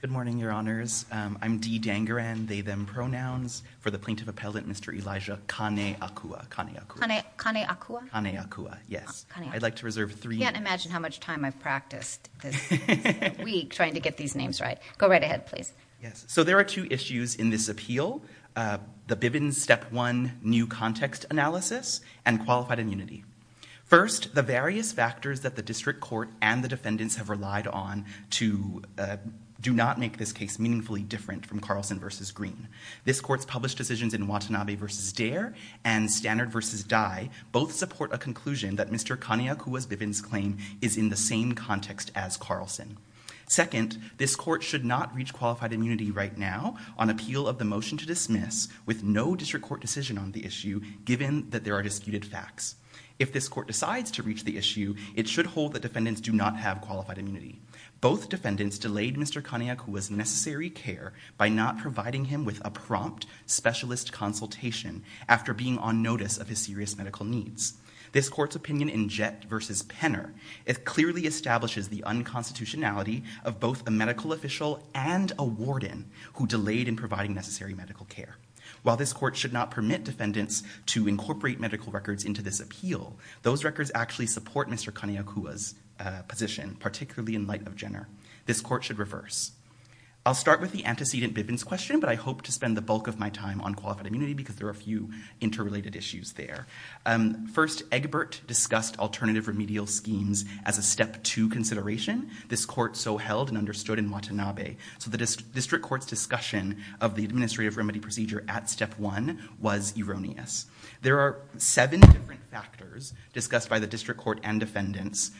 Good morning, your honors. I'm D. Dangaran, they, them pronouns for the plaintiff appellate, Mr. Elijah Kaneakua. Kaneakua? Kaneakua, yes. I'd like to reserve three. I can't imagine how much time I've practiced this week trying to get these names right. Go right ahead, please. Yes. So there are two issues in this appeal. The Bivens step one new context analysis and qualified immunity. First, the various factors that the district court and the defendants have relied on to do not make this case meaningfully different from Carlson v. Green. This court's published decisions in Watanabe v. Derr and Stannard v. Dye both support a conclusion that Mr. Kaneakua's Bivens claim is in the same context as Carlson. Second, this court should not reach qualified immunity right now on appeal of the motion to dismiss with no district court decision on the issue, given that there are disputed facts. If this court decides to reach the issue, it should hold that defendants do not have qualified immunity. Both defendants delayed Mr. Kaneakua's necessary care by not providing him with a prompt specialist consultation after being on notice of his serious medical needs. This court's opinion in Jett v. Penner, it clearly establishes the unconstitutionality of both a medical official and a warden who delayed in providing necessary medical care. While this court should not permit defendants to incorporate medical records into this appeal, those records actually support Mr. Kaneakua's position, particularly in light of Jenner. This court should reverse. I'll start with the antecedent Bivens question, but I hope to spend the bulk of my time on qualified immunity because there are a few interrelated issues there. First, Egbert discussed alternative remedial schemes as a step two consideration. This court so held and understood in Watanabe. So the district court's discussion of the administrative remedy procedure at step one was erroneous. There are seven different factors discussed by the district court and defendants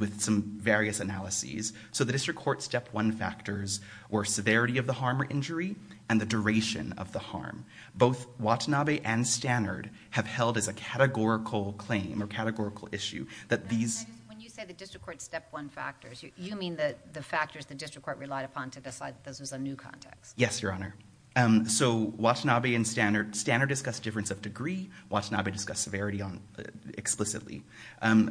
with some various analyses. So the district court's step one factors were severity of the harm or injury and the duration of the harm. Both Watanabe and Stannard have held as a categorical claim or categorical issue that these... When you say the district court's step one factors, you mean the factors the district court relied upon to decide that this was a new context. Yes, Your Honor. So Watanabe and Stannard discussed difference of degree. Watanabe discussed severity explicitly.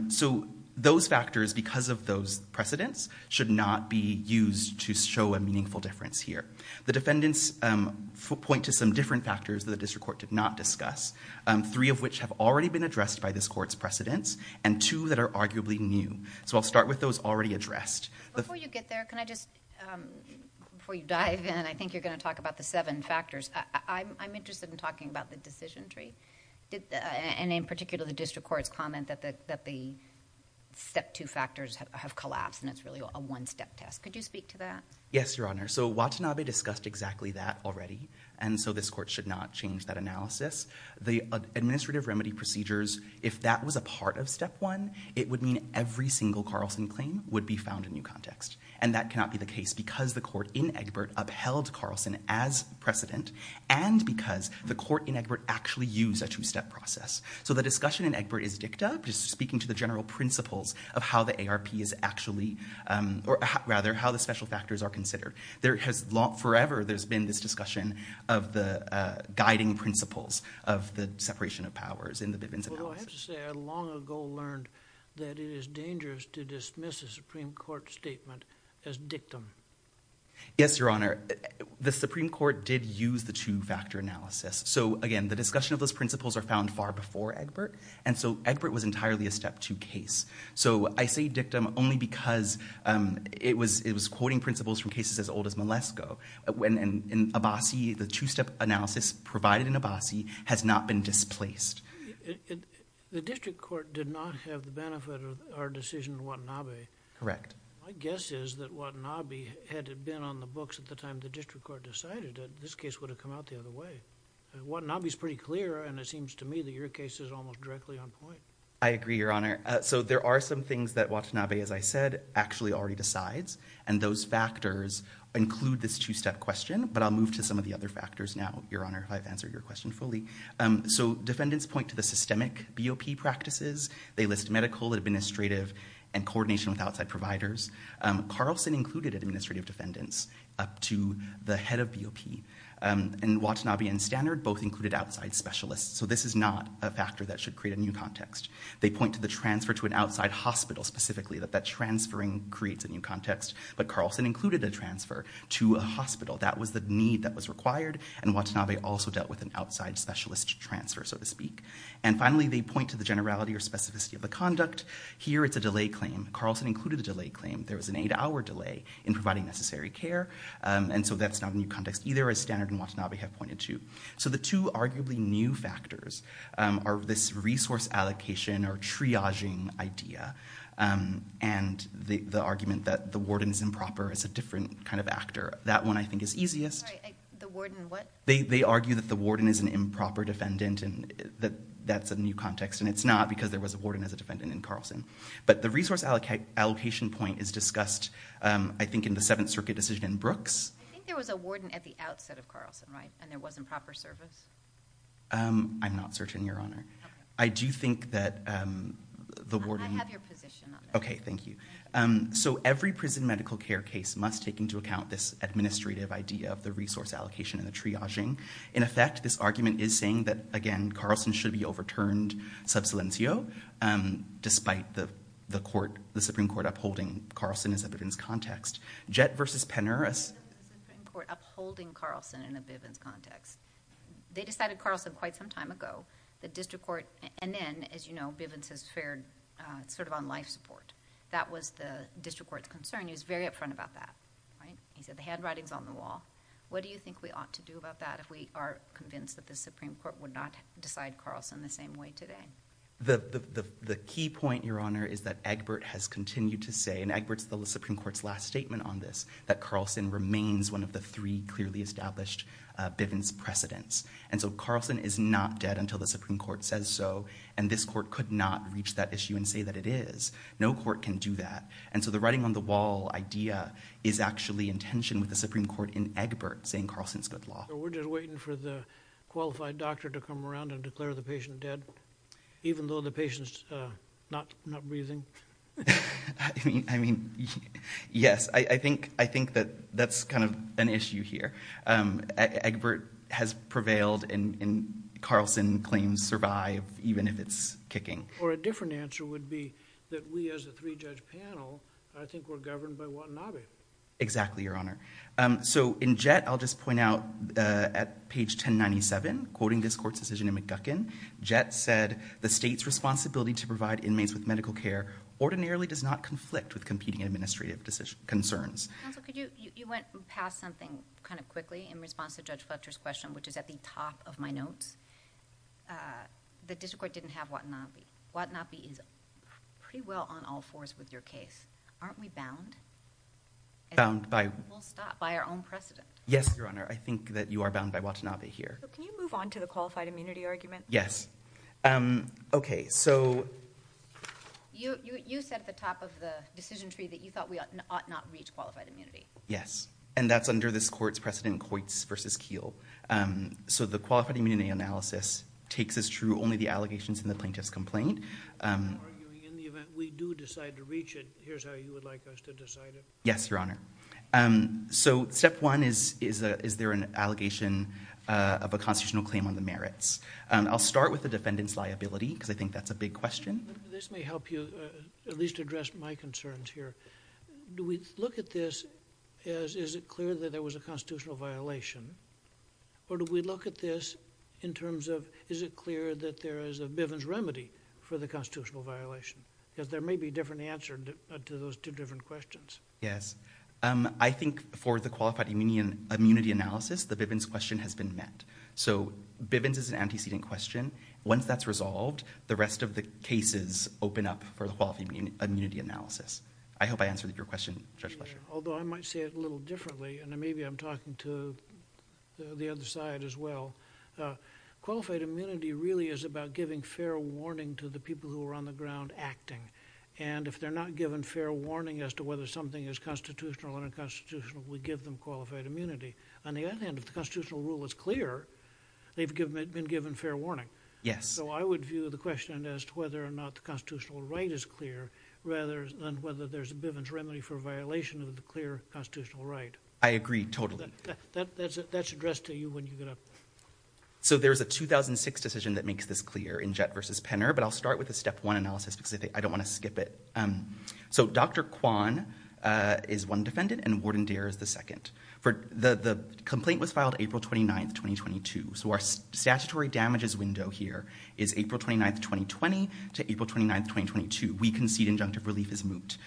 So those factors, because of those precedents, should not be used to show a meaningful difference here. The defendants point to some different factors that the district court did not discuss, three of which have already been addressed by this court's precedents and two that are arguably new. So I'll start with those already addressed. Before you get there, can I just... Before you dive in, I think you're going to talk about the seven factors. I'm interested in talking about the decision tree and in particular the district court's comment that the step two factors have collapsed and it's really a one step test. Could you speak to that? Yes, Your Honor. So Watanabe discussed exactly that already and so this court should not change that analysis. The administrative remedy procedures, if that was a part of step one, it would mean every single Carlson claim would be found in new context and that cannot be the case because the court in Egbert upheld Carlson as precedent and because the court in Egbert actually used a two step process. So the discussion in Egbert is dicta, just speaking to the general principles of how the ARP is actually... Or rather, how the special factors are considered. There has... Forever there's been this discussion of the guiding principles of the separation of powers in the Bivens analysis. I have to say, I long ago learned that it is dangerous to dismiss a Supreme Court statement as dictum. Yes, Your Honor. The Supreme Court did use the two factor analysis. So again, the discussion of those principles are found far before Egbert and so Egbert was entirely a step two case. So I say dictum only because it was quoting principles from cases as old as Malesko. In Abbasi, the two step analysis provided in Abbasi has not been displaced. The district court did not have the benefit of our decision in Watanabe. Correct. My guess is that Watanabe, had it been on the books at the time the district court decided it, this case would have come out the other way. Watanabe's pretty clear and it seems to me that your case is almost directly on point. I agree, Your Honor. So there are some things that Watanabe, as I said, actually already decides and those factors include this two step question, but I'll move to some of the other factors now, Your Honor, if I've answered your question fully. So defendants point to the systemic BOP practices. They list medical, administrative and coordination with outside providers. Carlson included administrative defendants up to the head of BOP and Watanabe and Standard both included outside specialists. So this is not a factor that should create a new context. They point to the transfer to an outside hospital specifically that that transferring creates a new context, but Carlson included a transfer to a hospital. That was the need that was required and Watanabe also dealt with an outside specialist transfer, so to speak. And finally, they point to the generality or specificity of the conduct. Here it's a delay claim. Carlson included a delay claim. There was an eight hour delay in providing necessary care and so that's not a new context either as Standard and Watanabe have pointed to. So the two arguably new factors are this resource allocation or triaging idea and the argument that the warden is improper is a different kind of actor. That one I think is easiest. Sorry, the warden what? They argue that the warden is an improper defendant and that's a new context and it's not because there was a warden as a defendant in Carlson. But the resource allocation point is discussed, I think, in the Seventh Circuit decision in Brooks. I think there was a warden at the outset of Carlson, right? And there was improper service? I'm not certain, Your Honor. I do think that the warden... I have your position on that. Okay, thank you. So every prison medical care case must take into account this administrative idea of the resource allocation and the triaging. In effect, this argument is saying that, again, Carlson should be overturned sub silencio despite the Supreme Court upholding Carlson as a Bivens context. Jett v. Penner... The Supreme Court upholding Carlson in a Bivens context. They decided Carlson quite some time ago. The district court, and then, as you know, Bivens has fared sort of on life support. That was the district court's concern. He was very upfront about that, right? He said the handwriting's on the wall. What do you think we ought to do about that if we are convinced that the Supreme Court would not decide Carlson the same way today? The key point, Your Honor, is that Egbert has continued to say, and Egbert's the Supreme Court's last statement on this, that Carlson remains one of the three clearly established Bivens precedents. And so Carlson is not dead until the Supreme Court says so, and this court could not reach that issue and say that it is. No court can do that. And so the writing on the wall idea is actually in tension with the Supreme Court in Egbert saying Carlson's good law. So we're just waiting for the qualified doctor to come around and declare the patient dead, even though the patient's not breathing? I mean, yes. I think that that's kind of an issue here. Egbert has prevailed and Carlson claims survive, even if it's kicking. Or a different answer would be that we as a three-judge panel, I think we're governed by Watanabe. Exactly, Your Honor. So in Jett, I'll just point out at page 1097, quoting this court's decision in McGuckin, Jett said, the state's responsibility to provide inmates with medical care ordinarily does not conflict with competing administrative concerns. Counsel, could you, you went past something kind of quickly in response to Judge Fletcher's question, which is at the top of my notes. The district court didn't have Watanabe. Watanabe is pretty well on all fours with your case. Aren't we bound? Bound by? We'll stop by our own precedent. Yes, Your Honor. I think that you are bound by Watanabe here. Can you move on to the qualified immunity argument? Yes. Okay, so... You said at the top of the decision tree that you thought we ought not reach qualified immunity. Yes, and that's under this court's precedent, Coit's v. Keele. So the qualified immunity analysis takes as true only the allegations in the plaintiff's complaint. You're arguing in the event we do decide to reach it, here's how you would like us to decide it. Yes, Your Honor. So step one is, is there an allegation of a constitutional claim on merits? I'll start with the defendant's liability, because I think that's a big question. This may help you at least address my concerns here. Do we look at this as, is it clear that there was a constitutional violation? Or do we look at this in terms of, is it clear that there is a Bivens remedy for the constitutional violation? Because there may be a different answer to those two different questions. Yes. I think for the qualified immunity analysis, the Bivens question has been met. So Bivens is an antecedent question. Once that's resolved, the rest of the cases open up for the qualified immunity analysis. I hope I answered your question, Judge Fletcher. Although I might say it a little differently, and maybe I'm talking to the other side as well. Qualified immunity really is about giving fair warning to the people who are on the ground acting. And if they're not given fair warning as to whether something is constitutional or unconstitutional, we give them qualified immunity. On the other hand, if the constitutional rule is clear, they've been given fair warning. Yes. So I would view the question as to whether or not the constitutional right is clear rather than whether there's a Bivens remedy for a violation of the clear constitutional right. I agree totally. That's addressed to you when you get up there. So there's a 2006 decision that makes this clear in Jett v. Penner, but I'll start with a step one analysis because I don't want to skip it. So Dr. Kwan is one defendant and Jordan Dare is the second. The complaint was filed April 29, 2022. So our statutory damages window here is April 29, 2020 to April 29, 2022. We concede injunctive relief is moot.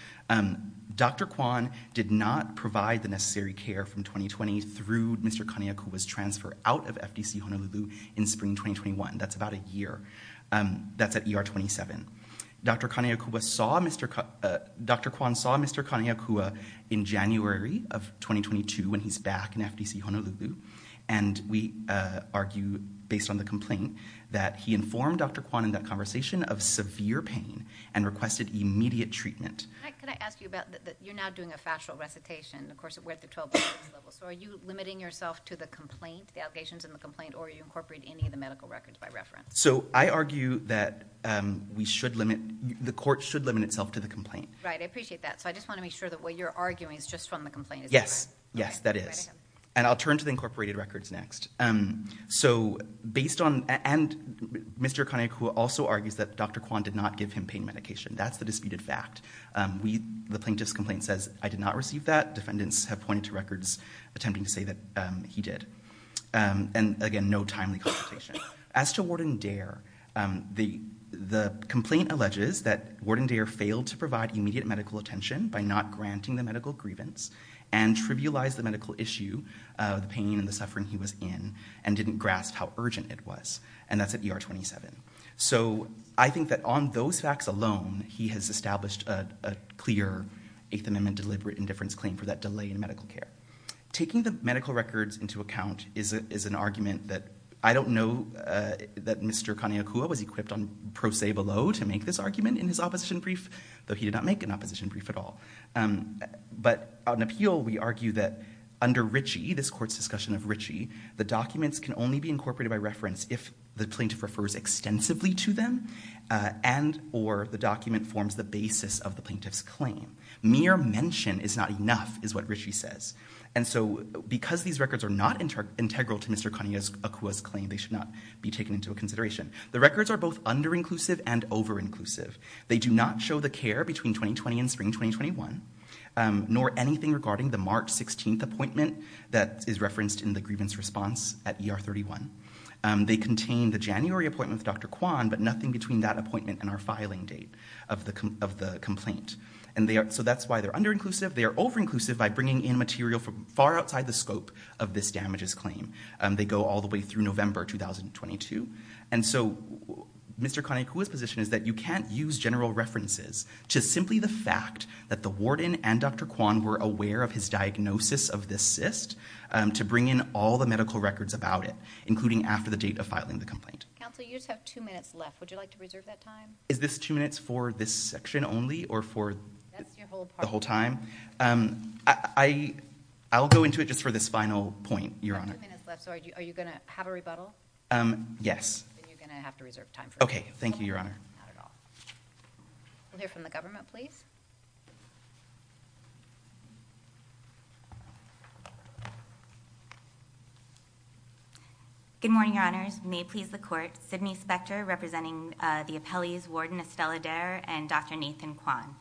Dr. Kwan did not provide the necessary care from 2020 through Mr. Kaneakua's transfer out of FDC Honolulu in spring 2021. That's about a year. That's at ER 27. Dr. Kwan saw Mr. Kaneakua in January of 2022 when he's back in FDC Honolulu. And we argue, based on the complaint, that he informed Dr. Kwan in that conversation of severe pain and requested immediate treatment. Can I ask you about that? You're now doing a factual recitation. Of course, we're at the 12-year level. So are you limiting yourself to the complaint, the allegations in the complaint, or are you incorporating any of the medical records by reference? So I argue that we should limit, the court should limit itself to the complaint. Right, I appreciate that. So I just want to make sure that what you're arguing is just from the complaint. Yes, yes, that is. And I'll turn to the incorporated records next. So based on, and Mr. Kaneakua also argues that Dr. Kwan did not give him pain medication. That's the disputed fact. The plaintiff's complaint says, I did not receive that. Defendants have pointed to records attempting to say that he did. And again, no timely consultation. As to Warden Dare, the complaint alleges that Warden Dare failed to provide immediate medical attention by not granting the medical grievance and trivialized the medical issue, the pain and the suffering he was in, and didn't grasp how urgent it was. And that's at ER 27. So I think that on those facts alone, he has established a clear Eighth Amendment deliberate indifference claim for that delay in medical care. Taking the medical records into account is an argument that I don't know that Mr. Kaneakua was equipped on pro se below to make this argument in his opposition brief, though he did not make an opposition brief at all. But on appeal, we argue that under Ritchie, this court's discussion of Ritchie, the documents can only be incorporated by reference if the plaintiff refers extensively to them, and or the document forms the basis of the plaintiff's claim. Mere mention is not enough, is what Ritchie says. And so because these records are not integral to Mr. Kaneakua's claim, they should not be taken into consideration. The records are both under-inclusive and over-inclusive. They do not show the care between 2020 and spring 2021, nor anything regarding the March 16th appointment that is referenced in the grievance response at ER 31. They contain the January appointment with Dr. Kwan, but nothing between that appointment and our filing date of the complaint. And so that's why they're under-inclusive. They are over-inclusive by bringing in material from far outside the scope of this damages claim. They go all the way through November 2022. And so Mr. Kaneakua's position is that you can't use general references to simply the fact that the warden and Dr. Kwan were aware of his diagnosis of this cyst, to bring in all the medical records about it, including after the date of filing the complaint. Counsel, you just have two minutes left. Would you like to reserve that time? Is this two minutes for this section only or for the whole time? I'll go into it just for this final point, Your Honor. You have two minutes left, so are you going to have a rebuttal? Yes. Then you're going to have to reserve time for that. Okay. Thank you, Your Honor. Not at all. We'll hear from the government, please. Good morning, Your Honors. May it please the Court, Sidney Spector representing the appellees, Warden Estella Dare and Dr. Nathan Kwan.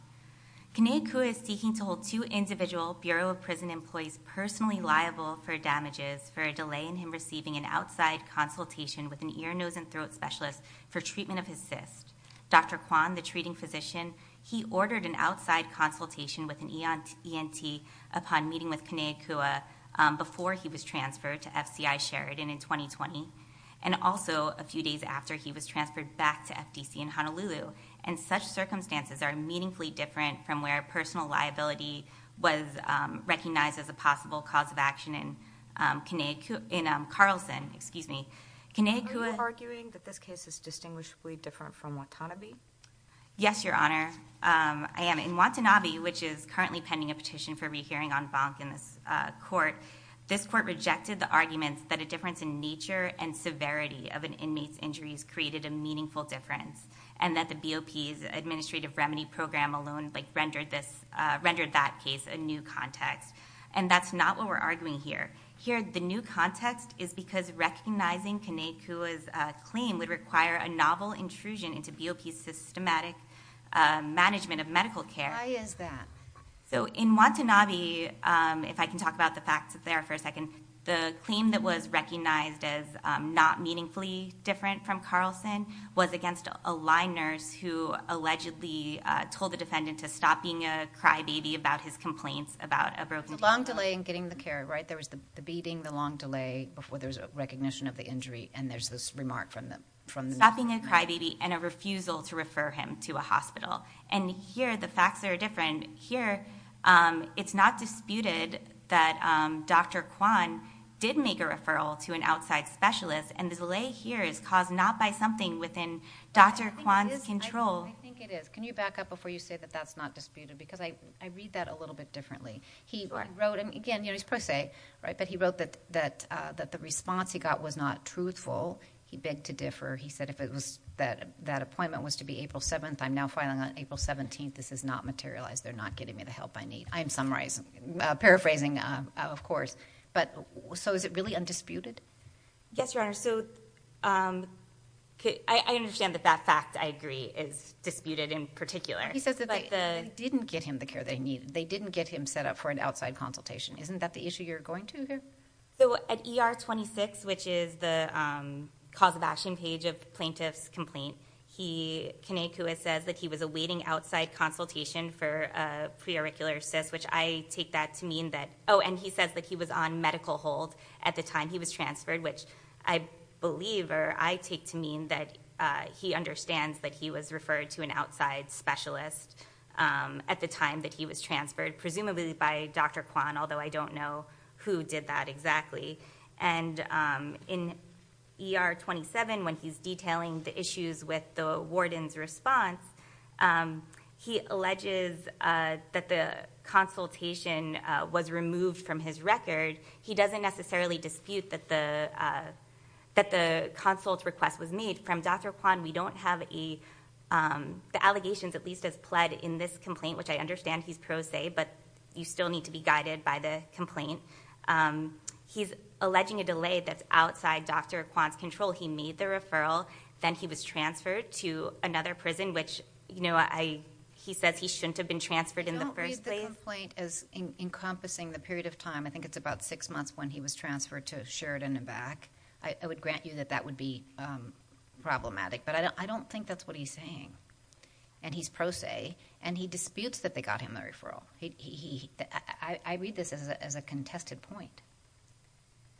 Kaneakua is seeking to hold two individual Bureau of Prison Employees personally liable for damages for a delay in him receiving an outside consultation with an ear, nose, and throat specialist for treatment of his cyst. Dr. Kwan, the treating physician, he ordered an outside consultation with an ENT upon meeting with Kaneakua before he was transferred to FCI Sheridan in 2020. Also, a few days after, he was transferred back to FDC in Honolulu. Such circumstances are meaningfully different from where personal liability was recognized as a possible cause of action in Carlson. Excuse me. Are you arguing that this case is distinguishably different from Watanabe? Yes, Your Honor. In Watanabe, which is currently pending a petition for rehearing on Bonk in this court, this court rejected the arguments that a difference in nature and severity of an inmate's injuries created a meaningful difference and that the BOP's administrative remedy program alone rendered that case a new context. That's not what we're arguing here. Here, the new context is because recognizing Kaneakua's claim would require a novel intrusion into BOP's systematic management of medical care. Why is that? In Watanabe, if I can talk about the facts there for a second, the claim that was recognized as not meaningfully different from Carlson was against a line nurse who allegedly told the defendant to stop being a crybaby about his complaints about a broken... It's a long delay in getting the care, right? There was the beating, the long delay before there was a recognition of the injury, and there's this remark from the... Stopping a crybaby and a refusal to refer him to a hospital. Here, the facts are different. Here, it's not disputed that Dr. Kwan did make a referral to an outside specialist, and the delay here is caused not by something within Dr. Kwan's control. I think it is. Can you back up before you say that that's not disputed? Because I read that a little bit differently. He wrote, and again, he's pro se, but he wrote that the response he got was not truthful. He begged to differ. He said if that appointment was to be April 7th, I'm now filing on April 17th. This has not materialized. They're not getting me the help I need. I am paraphrasing, of course. So is it really undisputed? Yes, Your Honor. I understand that that fact, I agree, is disputed in particular. He says that they didn't get him the care that he needed. They didn't get him set up for an outside consultation. Isn't that the issue you're going to here? At ER 26, which is the cause of action page of plaintiff's complaint, Kanekua says that he was awaiting outside consultation for a preauricular cyst, which I take that to mean that... Oh, and he says that he was on medical hold at the time he was transferred, which I believe or I take to mean that he understands that he was referred to an outside specialist at the time that he was transferred, presumably by Dr. Kwan, although I don't know who did that exactly. In ER 27, when he's detailing the issues with the warden's response, he alleges that the consultation was removed from his record. He doesn't necessarily dispute that the consult request was made. From Dr. Kwan, we don't have the allegations, at least as pled, in this complaint, which I understand he's pro se, but you still need to be guided by the complaint. He's alleging a delay that's outside Dr. Kwan's control. He made the referral, then he was transferred to another prison, which he says he shouldn't have been transferred in the first place. I don't read the complaint as encompassing the period of time. I think it's about six months when he was transferred to Sheridan and back. I would grant you that that would be problematic, but I don't think that's what he's saying, and he's pro se, and he disputes that they got him the referral. I read this as a contested point.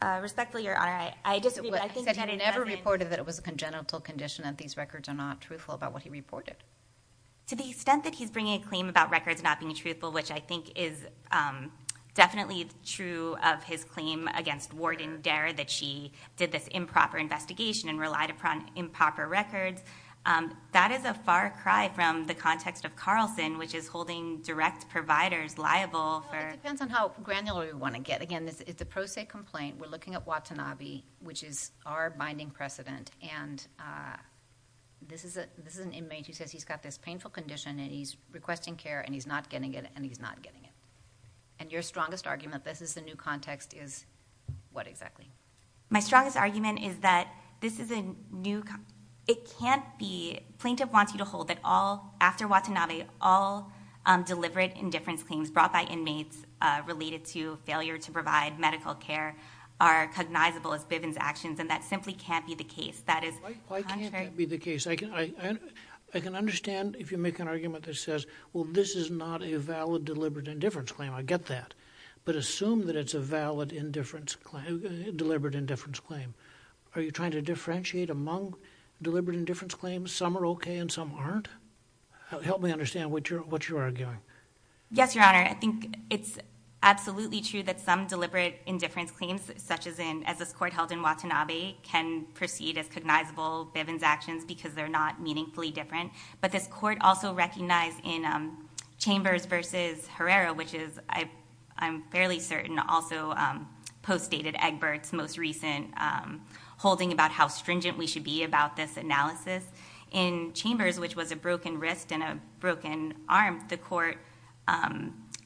Respectfully, Your Honor, I disagree. He said he never reported that it was a congenital condition and these records are not truthful about what he reported. To the extent that he's bringing a claim about records not being truthful, which I think is definitely true of his claim against Warden Dare that she did this improper investigation and relied upon improper records, that is a far cry from the context of Carlson, which is holding direct providers liable. It depends on how granular you want to get. Again, it's a pro se complaint. We're looking at Watanabe, which is our binding precedent, and this is an inmate who says he's got this painful condition, and he's requesting care, and he's not getting it, and he's not getting it. Your strongest argument, this is the new context, is what exactly? My strongest argument is that this is a new... It can't be. Plaintiff wants you to hold that all, after Watanabe, all deliberate indifference claims brought by inmates related to failure to provide medical care are cognizable as Bivens' actions, and that simply can't be the case. Why can't that be the case? I can understand if you make an argument that says, well, this is not a valid deliberate indifference claim. I get that, but assume that it's a valid deliberate indifference claim. Are you trying to differentiate among deliberate indifference claims? Some are okay, and some aren't? Help me understand what you're arguing. Yes, Your Honor. I think it's absolutely true that some deliberate indifference claims, such as this court held in Watanabe, can proceed as cognizable Bivens' actions because they're not meaningfully different, but this court also recognized in Chambers v. Herrera, which is, I'm fairly certain, also postdated Egbert's most recent holding about how stringent we should be about this analysis. In Chambers, which was a broken wrist and a broken arm, the court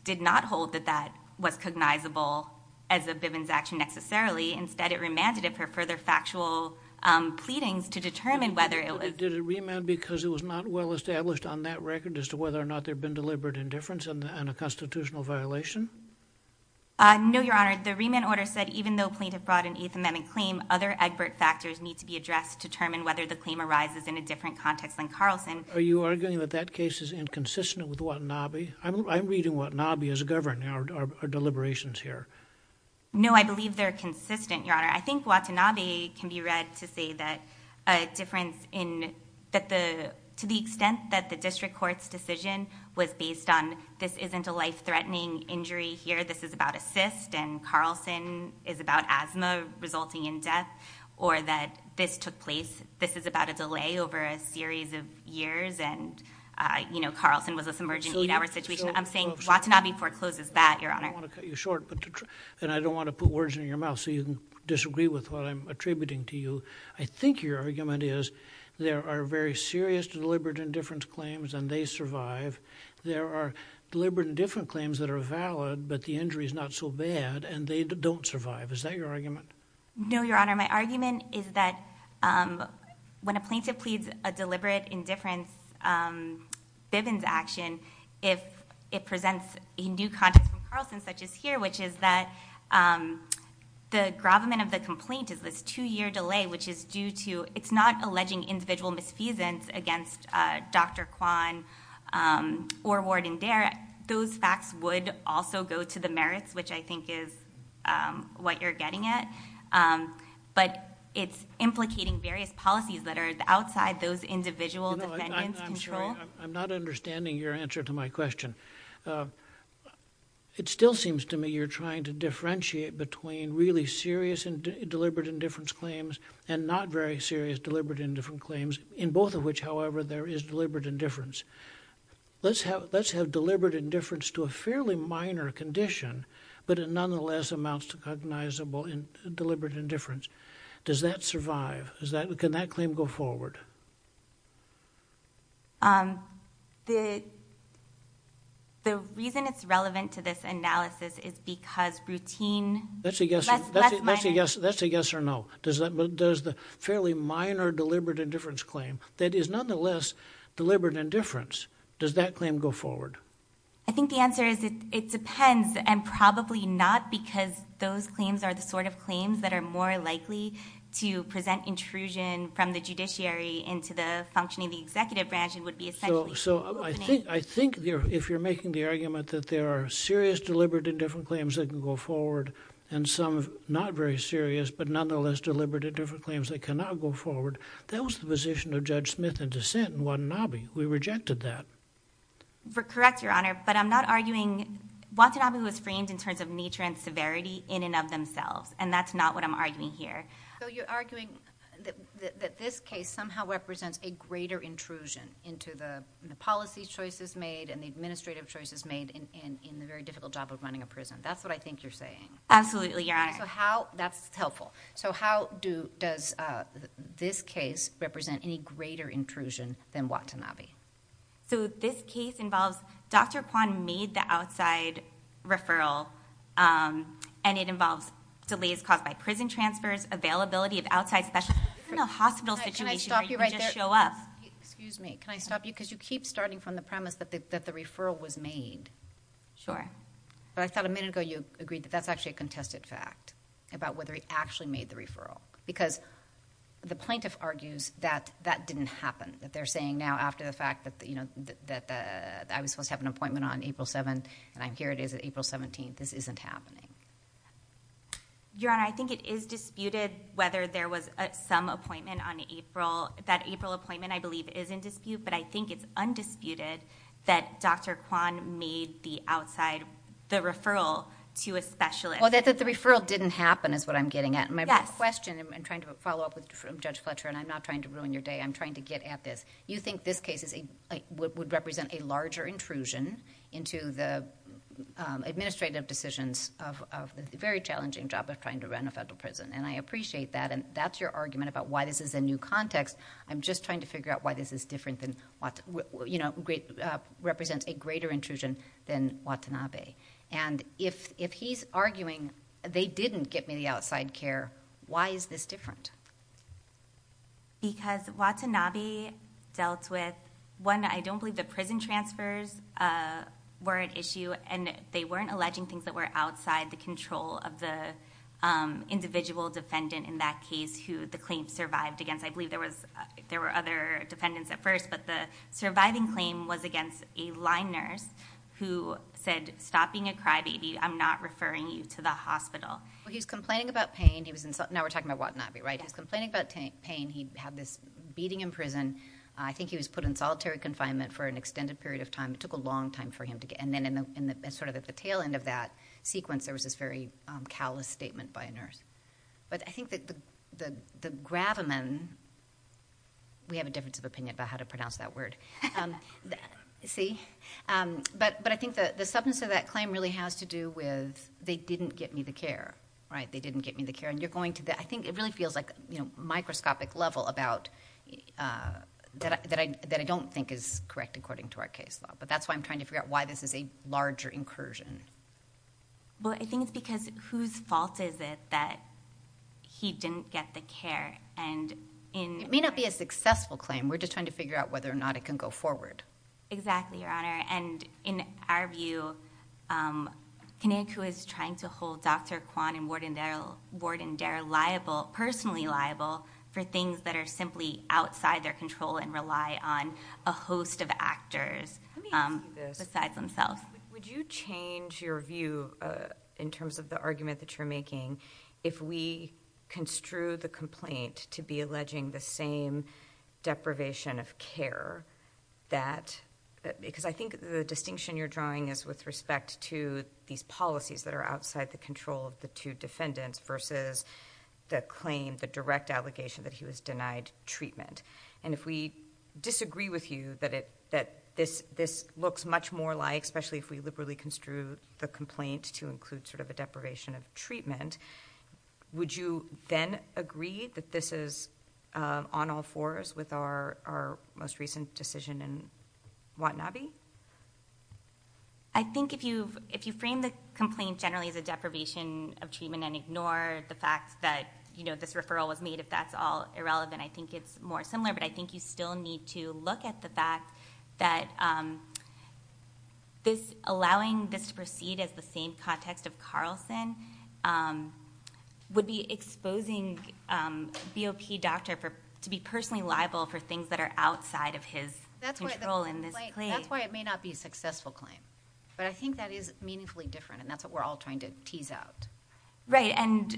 did not hold that that was cognizable as a Bivens' action necessarily. Instead, it remanded it for further factual pleadings to determine whether it was... Did it remand because it was not well established on that record as to whether or not there had been deliberate indifference and a constitutional violation? No, Your Honor. The remand order said even though a plaintiff brought an Eighth Amendment claim, other Egbert factors need to be addressed to determine whether the claim arises in a different context than Carlson. Are you arguing that that case is inconsistent with Watanabe? I'm reading Watanabe as a governor, our deliberations here. No, I believe they're consistent, Your Honor. I think Watanabe can be read to say that a difference in... to the extent that the district court's decision was based on this isn't a life-threatening injury here, this is about a cyst, and Carlson is about asthma resulting in death, or that this took place, this is about a delay over a series of years, and, you know, Carlson was a submerged in an eight-hour situation. I'm saying Watanabe forecloses that, Your Honor. I don't want to cut you short, and I don't want to put words in your mouth so you can disagree with what I'm attributing to you. I think your argument is there are very serious deliberate indifference claims, and they survive. There are deliberate indifference claims that are valid, but the injury's not so bad, and they don't survive. Is that your argument? No, Your Honor. My argument is that when a plaintiff pleads a deliberate indifference Bivens action, it presents a new context from Carlson, such as here, which is that the gravamen of the complaint is this two-year delay, which is due to... it's not alleging individual misfeasance against Dr. Kwan or Ward and Dare. Those facts would also go to the merits, which I think is what you're getting at, but it's implicating various policies that are outside those individual defendants' control. I'm not understanding your answer to my question. It still seems to me you're trying to differentiate between really serious deliberate indifference claims and not very serious deliberate indifference claims in both of which, however, there is deliberate indifference. Let's have deliberate indifference to a fairly minor condition, but it nonetheless amounts to cognizable deliberate indifference. Does that survive? Can that claim go forward? The reason it's relevant to this analysis is because routine... That's a yes or no. But does the fairly minor deliberate indifference claim that is nonetheless deliberate indifference, does that claim go forward? I think the answer is it depends, and probably not because those claims are the sort of claims that are more likely to present intrusion from the judiciary into the functioning of the executive branch. So I think if you're making the argument that there are serious deliberate indifference claims that can go forward and some not very serious, but nonetheless deliberate indifference claims that cannot go forward, that was the position of Judge Smith and dissent in Watanabe. We rejected that. Correct, Your Honor, but I'm not arguing... Watanabe was framed in terms of nature and severity in and of themselves, and that's not what I'm arguing here. So you're arguing that this case somehow represents a greater intrusion into the policy choices made and the administrative choices made in the very difficult job of running a prison. That's what I think you're saying. Absolutely, Your Honor. That's helpful. So how does this case represent any greater intrusion than Watanabe? So this case involves... Dr. Kwan made the outside referral, and it involves delays caused by prison transfers, availability of outside specialists. It's not a hospital situation where you just show up. Excuse me, can I stop you? Because you keep starting from the premise that the referral was made. Sure. But I thought a minute ago you agreed that that's actually a contested fact about whether he actually made the referral, because the plaintiff argues that that didn't happen, that they're saying now, after the fact that, you know, that I was supposed to have an appointment on April 7th, and here it is on April 17th, this isn't happening. Your Honor, I think it is disputed whether there was some appointment on April. That April appointment, I believe, is in dispute, but I think it's undisputed that Dr. Kwan made the outside... the referral to a specialist. Well, that the referral didn't happen is what I'm getting at. My question, and I'm trying to follow up with Judge Fletcher, and I'm not trying to ruin your day, I'm trying to get at this. You think this case would represent a larger intrusion into the administrative decisions of a very challenging job of trying to run a federal prison, and I appreciate that, and that's your argument about why this is a new context. I'm just trying to figure out why this is different than, you know, represents a greater intrusion than Watanabe. And if he's arguing, they didn't get me the outside care, why is this different? Because Watanabe dealt with, one, I don't believe the prison transfers were an issue, and they weren't alleging things that were outside the control of the individual defendant in that case who the claim survived against. I believe there were other defendants at first, but the surviving claim was against a line nurse who said, stopping a crybaby, I'm not referring you to the hospital. Well, he was complaining about pain. Now we're talking about Watanabe, right? He was complaining about pain. He had this beating in prison. I think he was put in solitary confinement for an extended period of time. It took a long time for him to get... And then sort of at the tail end of that sequence, there was this very callous statement by a nurse. But I think that the gravamen... We have a difference of opinion about how to pronounce that word. See? But I think the substance of that claim really has to do with, they didn't get me the care, right? They didn't get me the care. I think it really feels like, you know, microscopic level about... that I don't think is correct according to our case law. But that's why I'm trying to figure out why this is a larger incursion. Well, I think it's because whose fault is it that he didn't get the care? It may not be a successful claim. We're just trying to figure out whether or not it can go forward. Exactly, Your Honor. And in our view, Kinnick, who is trying to hold Dr. Kwan and Warden Dare liable, personally liable, for things that are simply outside their control and rely on a host of actors besides themselves... Would you change your view in terms of the argument that you're making if we construe the complaint to be alleging the same deprivation of care that... Because I think the distinction you're drawing is with respect to these policies that are outside the control of the two defendants versus the claim, the direct allegation, that he was denied treatment. And if we disagree with you that this looks much more like, especially if we liberally construe the complaint to include sort of a deprivation of treatment, would you then agree that this is on all fours with our most recent decision in Watanabe? I think if you frame the complaint generally as a deprivation of treatment and ignore the fact that this referral was made, if that's all irrelevant, I think it's more similar. But I think you still need to look at the fact that allowing this to proceed as the same context of Carlson would be exposing BOP doctor to be personally liable for things that are outside of his control in this claim. That's why it may not be a successful claim. But I think that is meaningfully different, and that's what we're all trying to tease out. Right. And,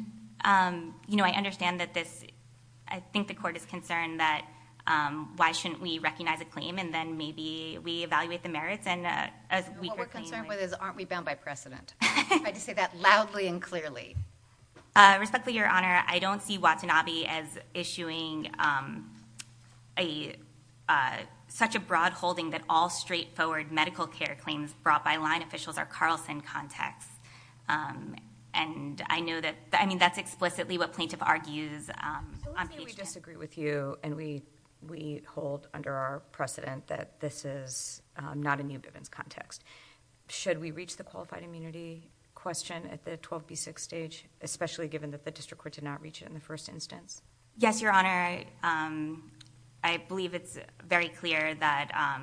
you know, I understand that this... I think the court is concerned that why shouldn't we recognize a claim and then maybe we evaluate the merits and a weaker claim... What we're concerned with is, aren't we bound by precedent? I'm going to say that loudly and clearly. Respectfully, Your Honor, I don't see Watanabe as issuing a... such a broad holding that all straightforward medical care claims brought by line officials are Carlson context. And I know that... I mean, that's explicitly what plaintiff argues on page 10. So let's say we disagree with you and we hold under our precedent that this is not a new Bivens context. Should we reach the qualified immunity question at the 12B6 stage, especially given that the district court did not reach it in the first instance? Yes, Your Honor. I believe it's very clear that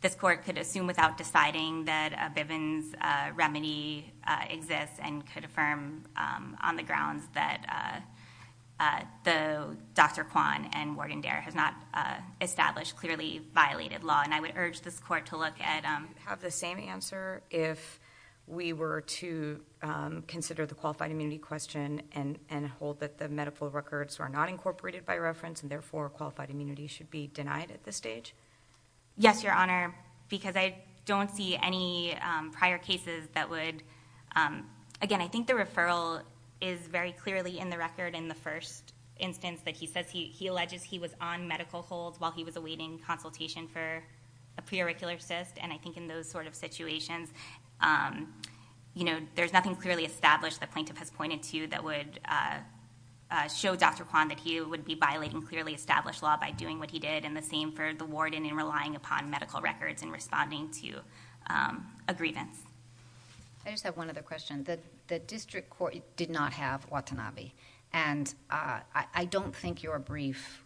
this court could assume without deciding that a Bivens remedy exists and could affirm on the grounds that Dr. Kwan and Wargandere has not established clearly violated law. And I would urge this court to look at... Would we have the same answer if we were to consider the qualified immunity question and hold that the medical records are not incorporated by reference and therefore qualified immunity should be denied at this stage? Yes, Your Honor, because I don't see any prior cases that would... Again, I think the referral is very clearly in the record in the first instance that he says he alleges he was on medical hold while he was awaiting consultation for a preauricular cyst. And I think in those sort of situations, you know, there's nothing clearly established the plaintiff has pointed to that would show Dr. Kwan that he would be violating clearly established law by doing what he did. And the same for the warden in relying upon medical records and responding to a grievance. I just have one other question. The district court did not have Watanabe. And I don't think your brief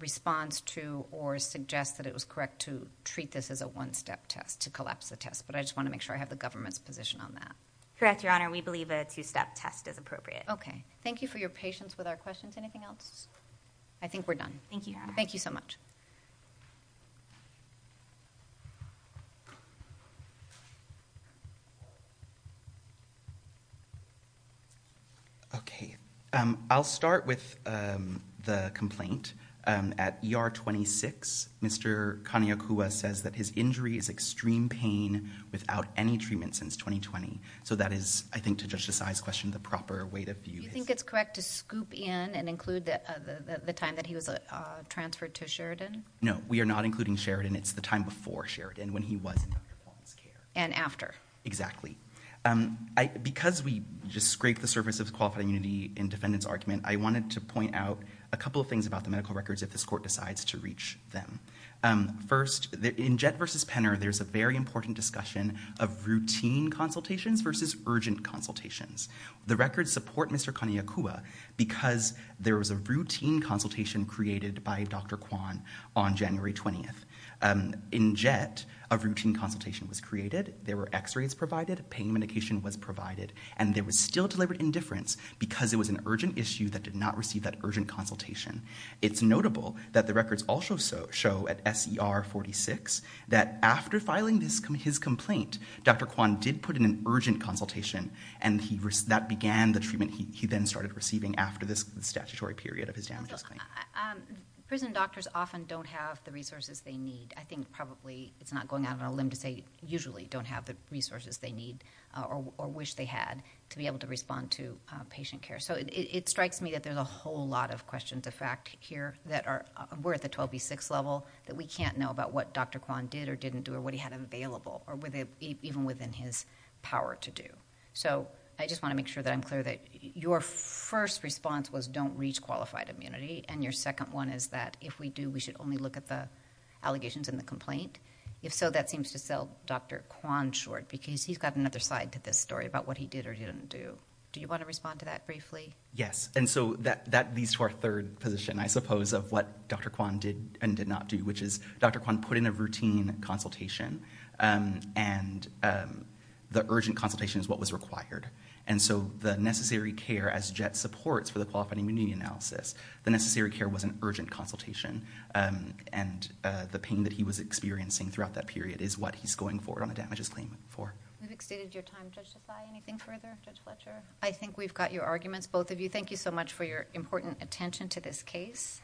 response to... or suggest that it was correct to treat this as a one-step test, to collapse the test. But I just want to make sure I have the government's position on that. Correct, Your Honor. We believe a two-step test is appropriate. Okay. Thank you for your patience with our questions. Anything else? I think we're done. Thank you. Thank you so much. Okay. I'll start with the complaint. At ER 26, Mr. Kaneokua says that his injury is extreme pain without any treatment since 2020. So that is, I think, to Judge Desai's question, the proper way to view his... Do you think it's correct to scoop in and include the time that he was transferred to Sheridan? No, we are not including Sheridan. It's the time before Sheridan, when he was in Dr. Kwan's care. And after. Exactly. Because we just scraped the surface of the qualified immunity in defendant's argument, I wanted to point out a couple of things about the medical records if this court decides to reach them. First, in Jett v. Penner, there's a very important discussion of routine consultations versus urgent consultations. The records support Mr. Kaneokua because there was a routine consultation created by Dr. Kwan on January 20th. In Jett, a routine consultation was created, there were x-rays provided, pain medication was provided, and there was still deliberate indifference because it was an urgent issue that did not receive that urgent consultation. It's notable that the records also show at S.E.R. 46 that after filing his complaint, Dr. Kwan did put in an urgent consultation and that began the treatment he then started receiving after this statutory period of his damages claim. Prison doctors often don't have the resources they need. I think probably it's not going out on a limb to say usually don't have the resources they need or wish they had to be able to respond to patient care. It strikes me that there's a whole lot of questions of fact here that we're at the 12B6 level that we can't know about what Dr. Kwan did or didn't do or what he had available even within his power to do. I just want to make sure that I'm clear that your first response was don't reach qualified immunity and your second one is that if we do we should only look at the allegations and the complaint. If so, that seems to sell Dr. Kwan short because he's got another side to this story about what he did or didn't do. Do you want to respond to that briefly? Yes, and so that leads to our third position I suppose of what Dr. Kwan did and did not do which is Dr. Kwan put in a routine consultation and the urgent consultation is what was required and so the necessary care as JET supports for the qualified immunity analysis, the necessary care was an urgent consultation and the pain that he was experiencing throughout that period is what he's going forward on a damages claim for. We've extended your time. Judge Tsai, anything further? Judge Fletcher? I think we've got your arguments both of you. Thank you so much for your important attention to this case.